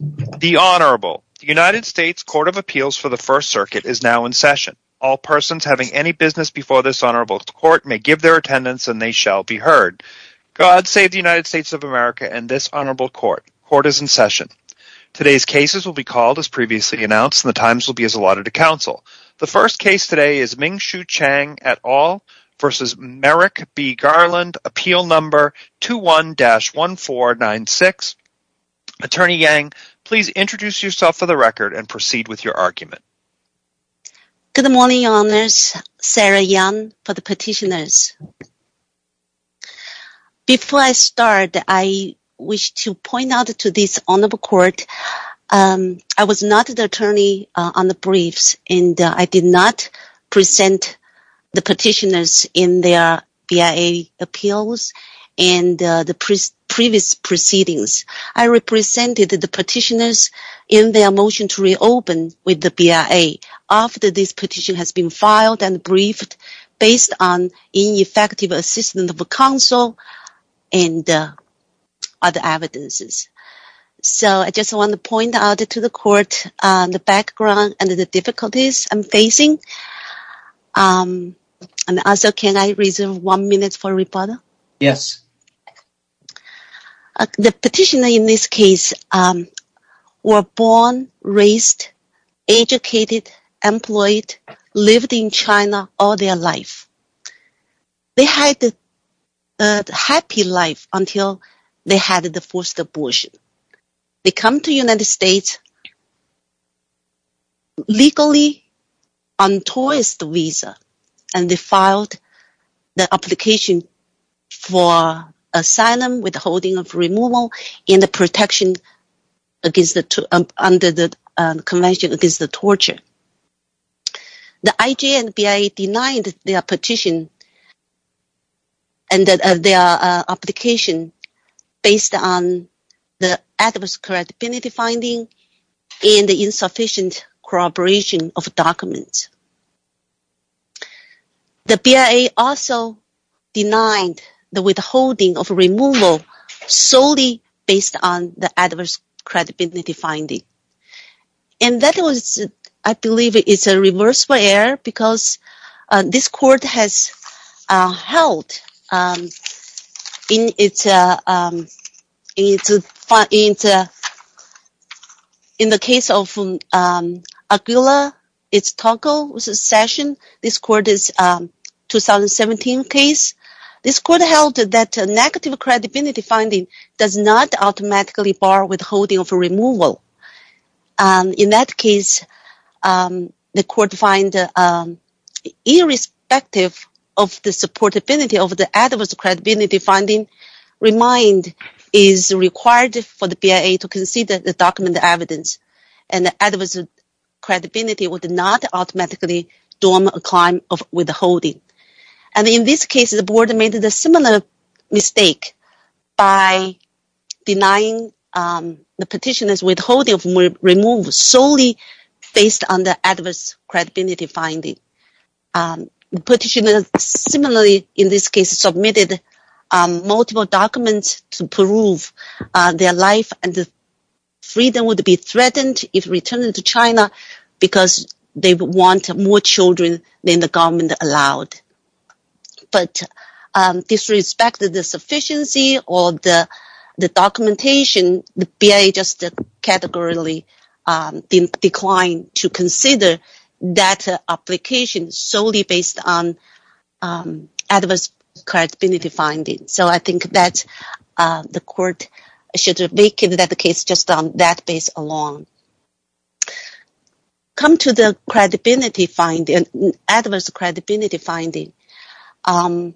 The Honourable. The United States Court of Appeals for the First Circuit is now in session. All persons having any business before this Honourable Court may give their attendance and they shall be heard. God save the United States of America and this Honourable Court. Court is in session. Today's cases will be called as previously announced and the times will be as allotted to counsel. The first case today is Ming-Shu Chang et al. v. Merrick v. Garland, Appeal No. 21-1496. Attorney Yang, please introduce yourself for the record and proceed with your argument. Good morning, Your Honours. Sarah Yang for the petitioners. Before I start, I wish to point out to this Honourable Court, I was not the attorney on the and the previous proceedings. I represented the petitioners in their motion to reopen with the BIA after this petition has been filed and briefed based on ineffective assistance of counsel and other evidences. So I just want to point out to the Court the background and the difficulties I'm facing and also can I reserve one minute for rebuttal? Yes. The petitioners in this case were born, raised, educated, employed, lived in China all their life. They had a happy life until they had the forced abortion. They come to the United States legally on tourist visa and they filed the application for asylum with holding of removal in the protection under the Convention Against Torture. The IJA and BIA denied their petition and their application based on the adverse credibility finding and the insufficient corroboration of documents. The BIA also denied the withholding of removal solely based on the adverse credibility finding. And that was, I believe, it's a reversible error because this Court has held in the case of Aguila, it's Tocco's session, this Court's 2017 case, this Court held that negative credibility finding does not automatically bar withholding of removal. In that case, the Court find irrespective of the supportability of the adverse credibility finding, remind is required for the BIA to consider the document evidence and the adverse credibility would not automatically dorm a crime of withholding. And in this case, the Board made a similar mistake by denying the petitioner's withholding of removal solely based on the adverse credibility finding. The petitioner similarly in this case submitted multiple documents to prove their life and freedom would be threatened if returned to China because they would want more children than the government allowed. But disrespected the sufficiency of the documentation, the BIA just categorically declined to consider that application solely based on adverse credibility finding. So I think that the Court should make that the case just on that base alone. Come to the credibility finding, adverse credibility finding. The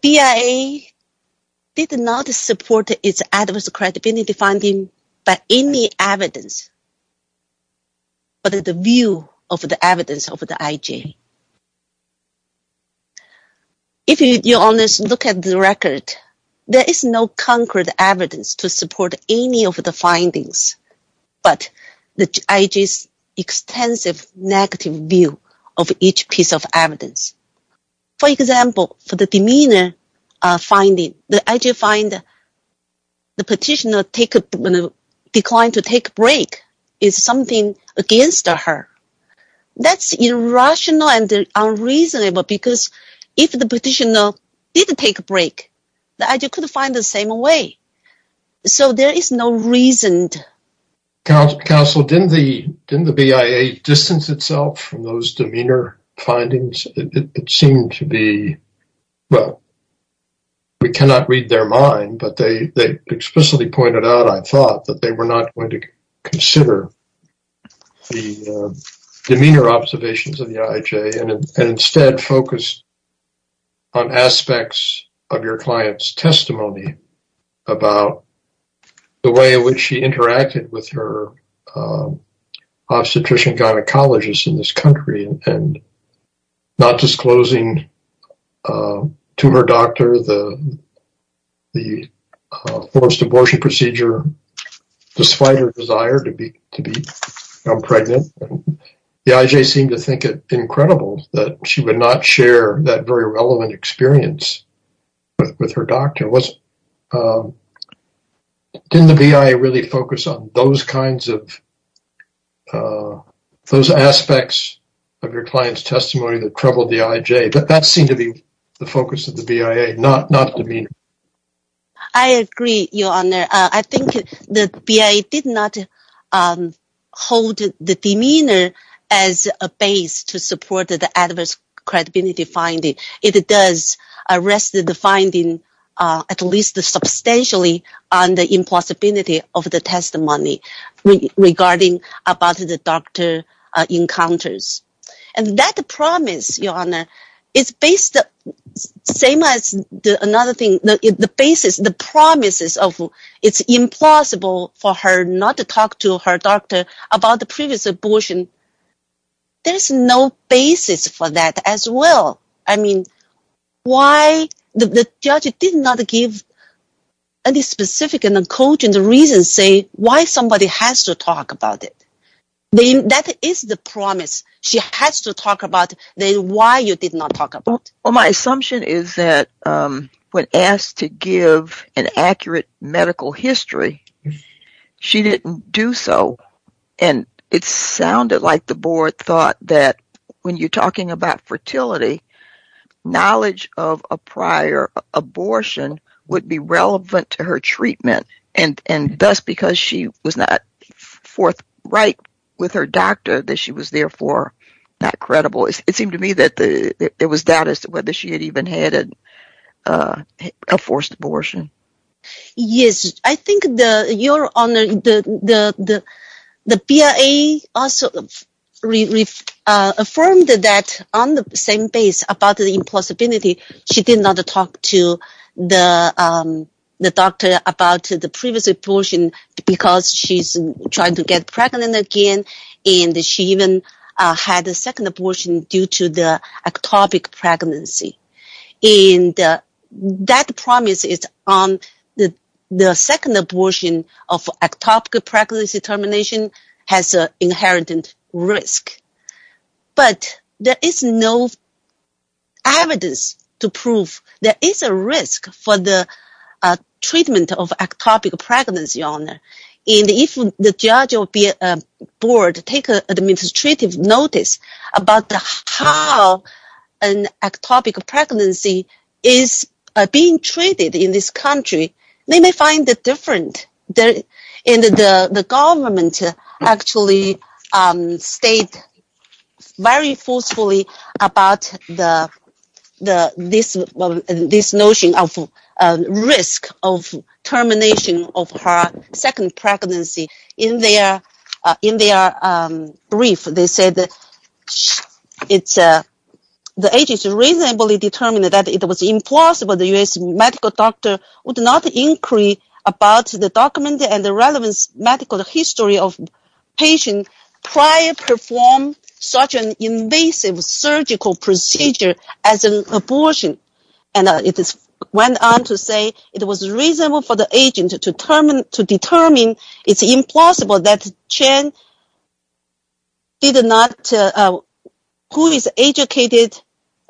BIA did not support its adverse credibility finding by any evidence but the view of the evidence of the IJ. If you honest look at the record, there is no concrete evidence to support any of the findings, but the IJ's extensive negative view of each piece of evidence. For example, for the demeanor finding, the IJ find the petitioner declined to take a break is something against her. That's irrational and unreasonable because if the petitioner did take a break, the IJ could find the same way. So there is no reason. Counsel, didn't the BIA distance itself from those demeanor findings? It seemed to be, well, we cannot read their mind, but they explicitly pointed out, I thought, that they were not going to consider the demeanor observations of the IJ and instead focused on aspects of your client's testimony about the way in which she interacted with her obstetrician gynecologist in this country and not disclosing to her doctor the forced abortion procedure despite her desire to be pregnant. The IJ seemed to think it incredible that she would not share that very relevant experience with her doctor. Didn't the BIA really focus on those aspects of your client's testimony that troubled the IJ? But that seemed to be the focus of the BIA, not demeanor. I agree, Your Honor. I think the BIA did not hold the demeanor as a base to support the adverse credibility finding. It does rest the finding at least substantially on the impossibility of the testimony regarding about the doctor encounters. And that promise, Your Honor, is based on the same as another thing, the basis, the promises of it's impossible for her not to talk to her doctor about the previous abortion. There's no basis for that as well. I mean, why the judge did not give any specific coaching the reason say why somebody has to talk about it. That is the promise. She has to talk about why you did not talk about it. Well, my assumption is that when asked to give an accurate medical history, she didn't do so. And it sounded like the board thought that when you're talking about fertility, knowledge of a prior abortion would be relevant to her treatment and thus because she was not forthright with her doctor that she was therefore not credible. It seemed to me that it was doubt as to whether she had even had a forced abortion. Yes, I think Your Honor, the BIA also reaffirmed that on the same base about the impossibility. She did not talk to the doctor about the previous abortion because she's trying to get pregnant again. And she even had a second abortion due to the ectopic pregnancy. And that promise is on the second abortion of ectopic pregnancy termination has an inherent risk. But there is no evidence to prove there is a risk for the treatment of ectopic pregnancy, Your Honor. And if the judge or BIA board take an administrative notice about how an ectopic pregnancy is being treated in this country, they may find it different. And the government actually stated very forcefully about this notion of risk of termination of her second pregnancy. In their brief, they said that the agency reasonably determined that it was impossible the U.S. medical doctor would not inquire about the document and the relevant medical history of patient prior perform such an invasive surgical procedure as an abortion. And it went on to say it was reasonable for the agent to determine it's impossible that Chen did not, who is educated,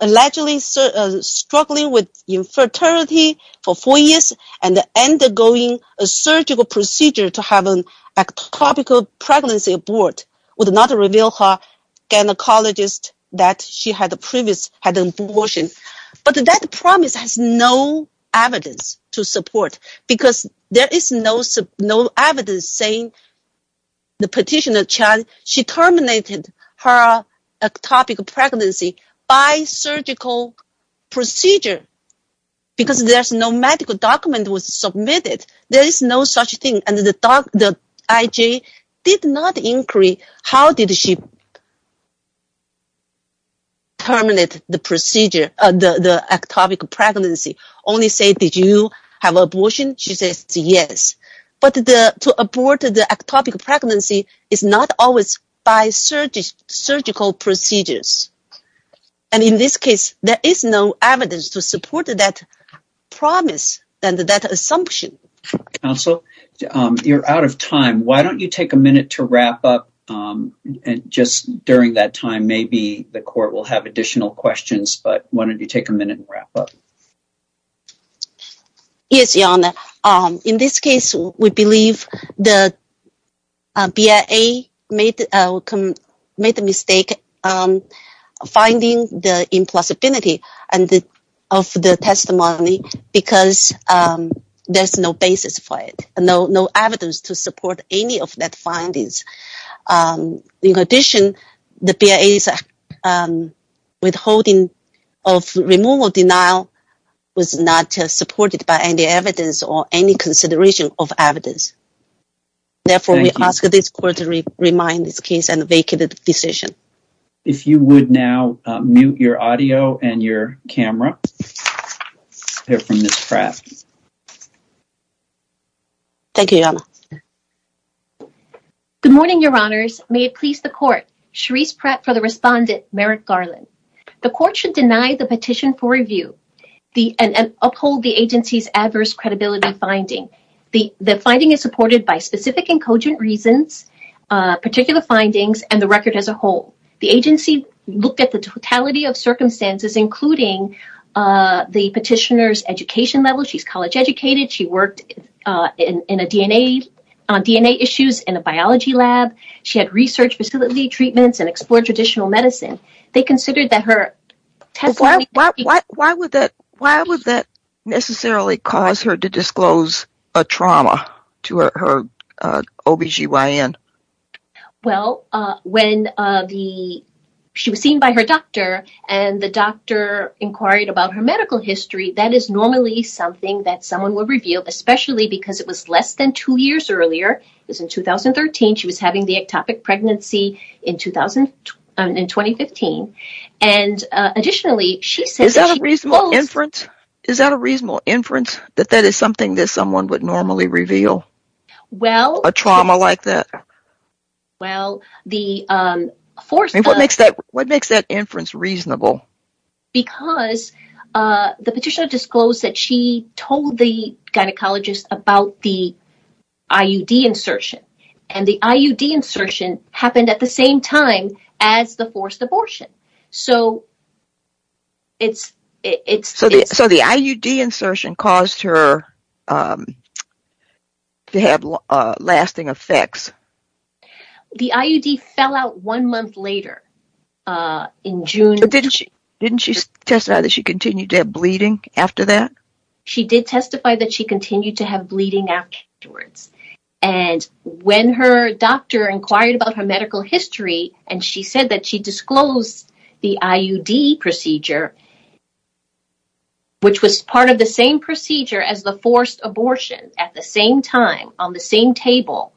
allegedly struggling with infertility for four years and undergoing a surgical procedure to have an ectopic pregnancy abort would not reveal her gynecologist that she had a previous abortion. But that promise has no evidence to support because there is no evidence saying the petitioner Chen, she terminated her ectopic pregnancy by surgical procedure because there's no medical document was submitted. There is no such thing. And the IJ did not inquire how did she terminate the ectopic pregnancy, only say, did you have abortion? She says yes. But to abort the ectopic pregnancy is not always by surgical procedures. And in this case, there is no evidence to support that promise and that assumption. Counsel, you're out of time. Why don't you take a minute to wrap up? And just during that time, maybe the court will have additional questions, but why don't you take a minute and wrap up? Yes, Your Honor. In this case, we believe the BIA made the mistake finding the implausibility of the testimony because there's no basis for it, no evidence to support any of that findings. In addition, the BIA is withholding of removal denial was not supported by any evidence or any consideration of evidence. Therefore, we ask this court to remind this case and vacate the decision. If you would now mute your audio and your camera, hear from Ms. Pratt. Thank you, Your Honor. Good morning, Your Honors. May it please the court. Sharice Pratt for the respondent, Merrick Garland. The court should deny the petition for review and uphold the agency's adverse credibility finding. The finding is supported by specific and cogent reasons, particular findings, and the record as a whole. The agency looked at the totality of circumstances, including the petitioner's education level. She's college explored traditional medicine. Why would that necessarily cause her to disclose a trauma to her OBGYN? Well, when she was seen by her doctor and the doctor inquired about her medical history, that is normally something that someone would reveal, especially because it was less than two years earlier. It was in 2013. She was having the ectopic pregnancy in 2015. Is that a reasonable inference that that is something that someone would normally reveal a trauma like that? What makes that inference reasonable? Because the petitioner disclosed that she told the gynecologist about the IUD insertion, and the IUD insertion happened at the same time as the forced abortion. So the IUD insertion caused her to have lasting effects? The IUD fell out one month later in June. But didn't she testified that she continued to have she did testify that she continued to have bleeding afterwards. And when her doctor inquired about her medical history, and she said that she disclosed the IUD procedure, which was part of the same procedure as the forced abortion at the same time on the same table.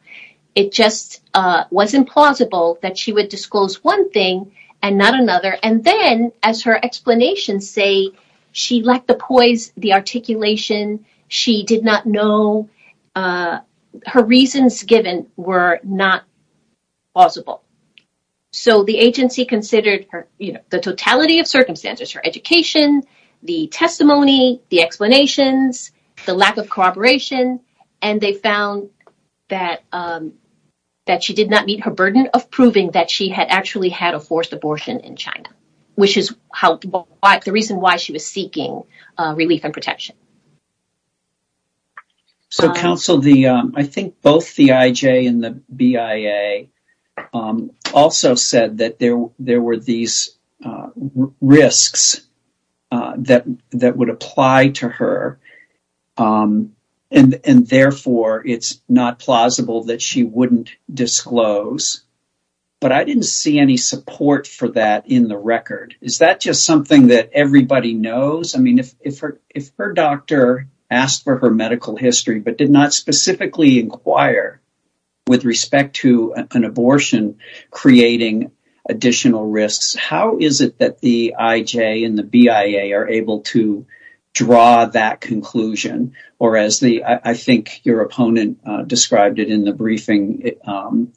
It just wasn't plausible that she would disclose one thing and not another. And then as her explanations say, she lacked the poise, the articulation, she did not know, her reasons given were not plausible. So the agency considered her, you know, the totality of circumstances, her education, the testimony, the explanations, the lack of corroboration, and they found that she did not meet her burden of proving that she had actually had a forced abortion in China, which is the reason why she was seeking relief and protection. So counsel, I think both the IJ and the BIA also said that there were these risks that that would apply to her. And therefore, it's not plausible that she wouldn't disclose. But I didn't see any support for that in the record. Is that just something that everybody knows? I mean, if her doctor asked for her medical history, but did not specifically inquire with respect to an abortion, creating additional risks, how is it that the IJ and the BIA are able to draw that conclusion? Or as I think your opponent described it in the briefing,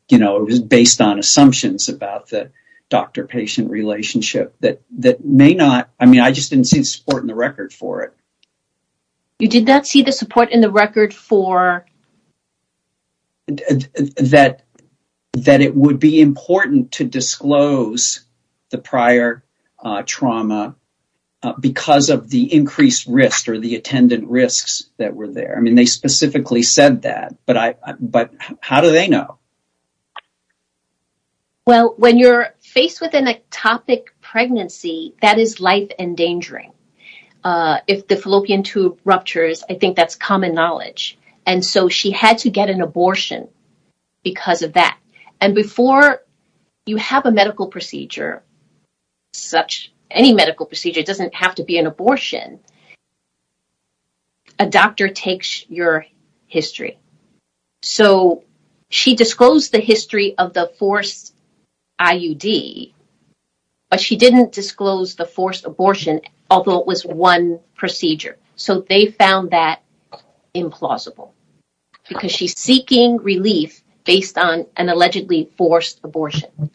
you know, it was based on assumptions about the doctor-patient relationship that may not, I mean, I just didn't see the support in the record for it. You did not see the support in the record for? That it would be important to disclose the prior trauma because of the increased risk or the attendant risks that were there. I mean, they specifically said that, but how do they know? Well, when you're faced with an ectopic pregnancy, that is life-endangering. If the fallopian tube ruptures, I think that's common knowledge. And so she had to get an abortion because of that. And before you have a medical procedure, any medical procedure doesn't have to be an abortion, a doctor takes your history. So she disclosed the history of the forced IUD, but she didn't disclose the forced abortion, although it was one procedure. So they found that implausible because she's seeking relief based on an allegedly forced abortion.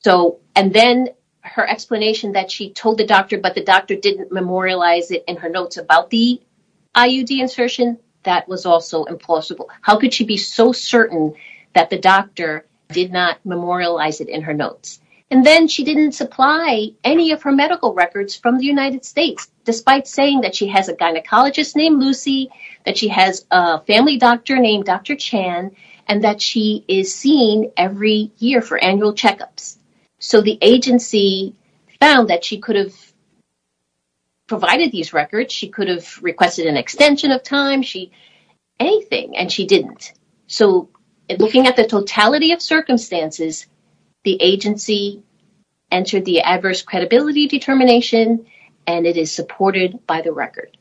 So, and then her explanation that she told the doctor, but the doctor didn't memorialize it in her notes about the IUD insertion, that was also implausible. How could she be so certain that the doctor did not memorialize it in her notes? And then she didn't supply any of her medical records from the United States, despite saying that she has a gynecologist named Lucy, that she has a family doctor named Dr. Chan, and that she is seen every year for annual checkups. So the agency found that she could have provided these records. She could have requested an extension of time, anything, and she didn't. So looking at the totality of circumstances, the agency entered the adverse credibility determination, and it is supported by the record.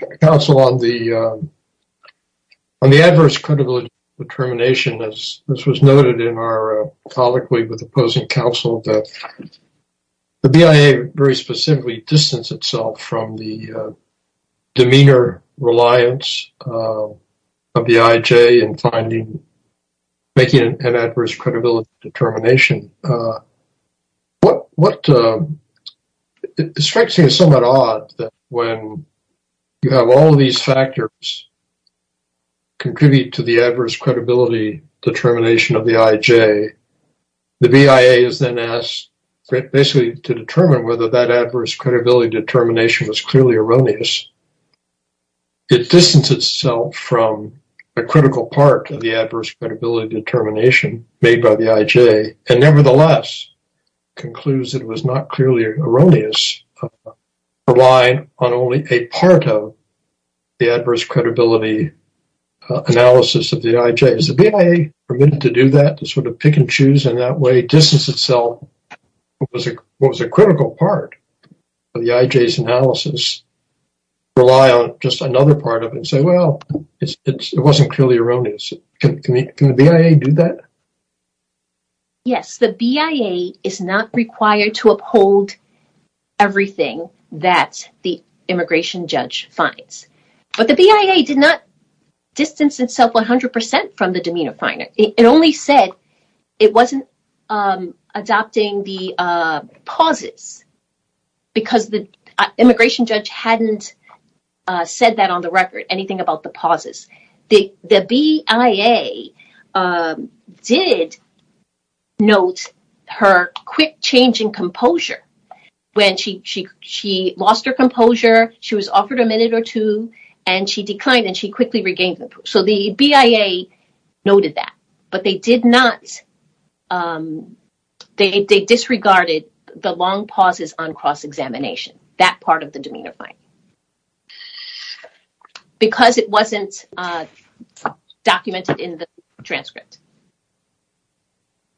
The counsel on the adverse credibility determination, as was noted in our colloquy with opposing counsel, that the BIA very specifically distanced itself from the demeanor reliance of the IJ in finding, making an adverse credibility determination. It strikes me as somewhat odd that when you have all of these factors contribute to the adverse credibility determination of the IJ, the BIA is then asked basically to determine whether that adverse credibility determination was clearly erroneous. It distanced itself from a critical part of the adverse credibility determination made by the IJ, and nevertheless, concludes it was not clearly erroneous, relied on only a part of the adverse credibility analysis of the IJ. Is the BIA permitted to do that, to sort of pick and choose in that way, distance itself from what was a critical part of the IJ's analysis, rely on just another part of it, and say, well, it wasn't clearly erroneous. Can the BIA do that? Yes, the BIA is not required to uphold everything that the immigration judge finds, but the BIA did not distance itself 100% from the demeanor finder. It only said it wasn't adopting the pauses because the immigration judge hadn't said that on the record, anything about the pauses. The BIA did note her quick change in composure when she lost her composure, she was offered a minute or two, and she declined, and she quickly regained it. So, the BIA noted that, but they disregarded the long pauses on cross-examination, that part of the demeanor find, because it wasn't documented in the transcript.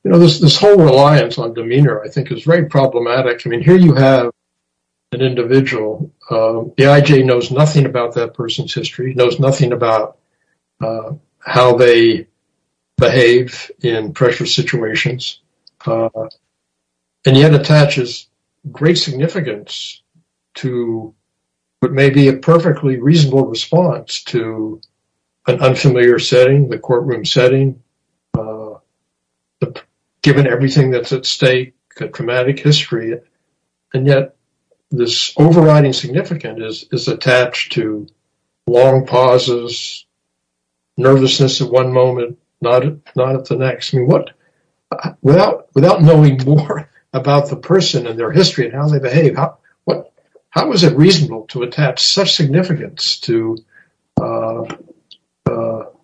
You know, this whole reliance on demeanor, I think, is very problematic. I mean, here you have an individual, the IJ knows nothing about that person's history, knows nothing about how they behave in pressure situations, and yet attaches great significance to what may be a perfectly reasonable response to an unfamiliar setting, the courtroom setting, given everything that's at stake, the traumatic history, and yet this overriding significance is attached to long pauses, nervousness at one moment, not at the next. Without knowing more about the person and their history and how they behave, how is it reasonable to attach such significance to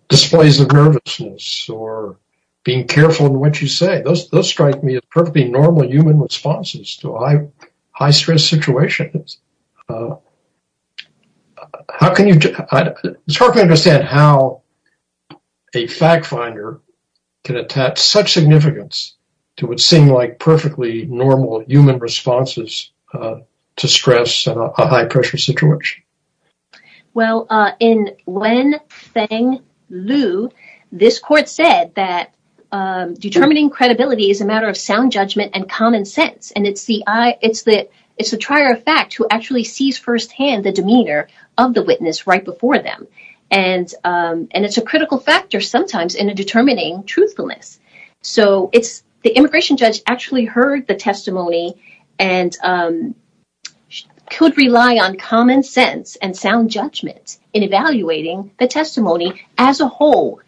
displays of nervousness or being careful in what you say? Those strike me as perfectly normal human responses to high-stress situations. It's hard to understand how a fact finder can attach such significance to what seemed like perfectly normal human responses to stress in a high-pressure situation. Well, in Wen Feng Liu, this court said that determining credibility is a matter of sound judgment. The immigration judge actually heard the testimony and could rely on common sense and sound judgment in evaluating the testimony as a whole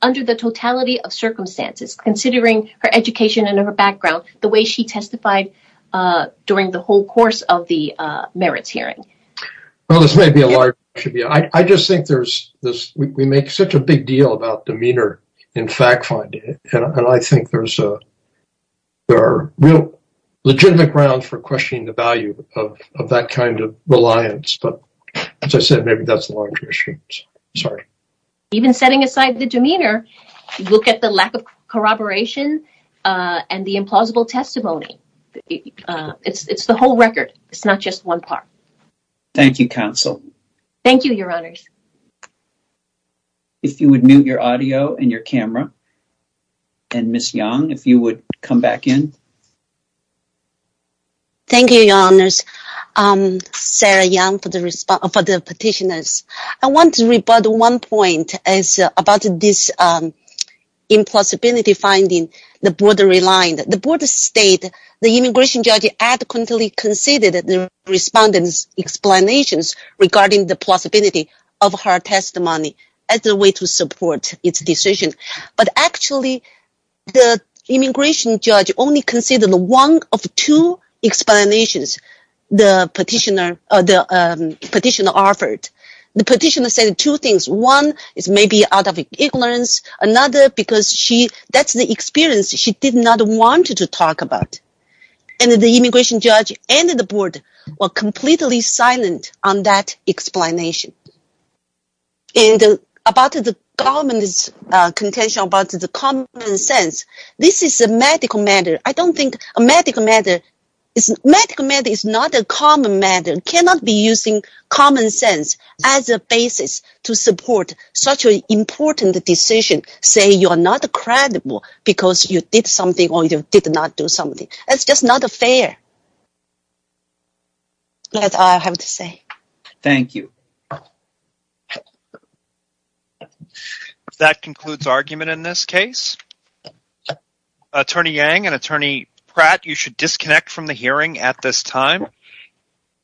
under the totality of circumstances, considering her education and her background, the way she testified during the whole course of the merits hearing. Well, this may be a large issue. I just think we make such a big deal about demeanor in fact finding, and I think there's a real legitimate ground for questioning the value of that kind of reliance, but as I said, maybe that's a larger issue. Sorry. Even setting aside the demeanor, look at the lack of corroboration and the implausible testimony. It's the whole record. It's not just one part. Thank you, counsel. Thank you, your honors. If you would mute your audio and your camera, and Ms. Yang, if you would come back in. Thank you, your honors. Sarah Yang for the petitioners. I want to rebut one point about this impossibility finding the board relied. The board state the immigration judge adequately considered the respondents' explanations regarding the plausibility of her testimony as a way to support its decision, but actually the immigration judge only considered one of two explanations the petitioner offered. The petitioner said two things. One is maybe out of ignorance, another because that's the experience she did not want to talk about, and the immigration judge and the board were completely silent on that explanation. And about the government's contention about the common sense, this is a medical matter. I don't think a medical matter is—medical matter is not a common matter. It cannot be using common sense as a basis to support such an important decision, saying you are not credible because you did something or you did not do something. That's just not fair. That's all I have to say. Thank you. That concludes argument in this case. Attorney Yang and Attorney Pratt, you should disconnect from the hearing at this time.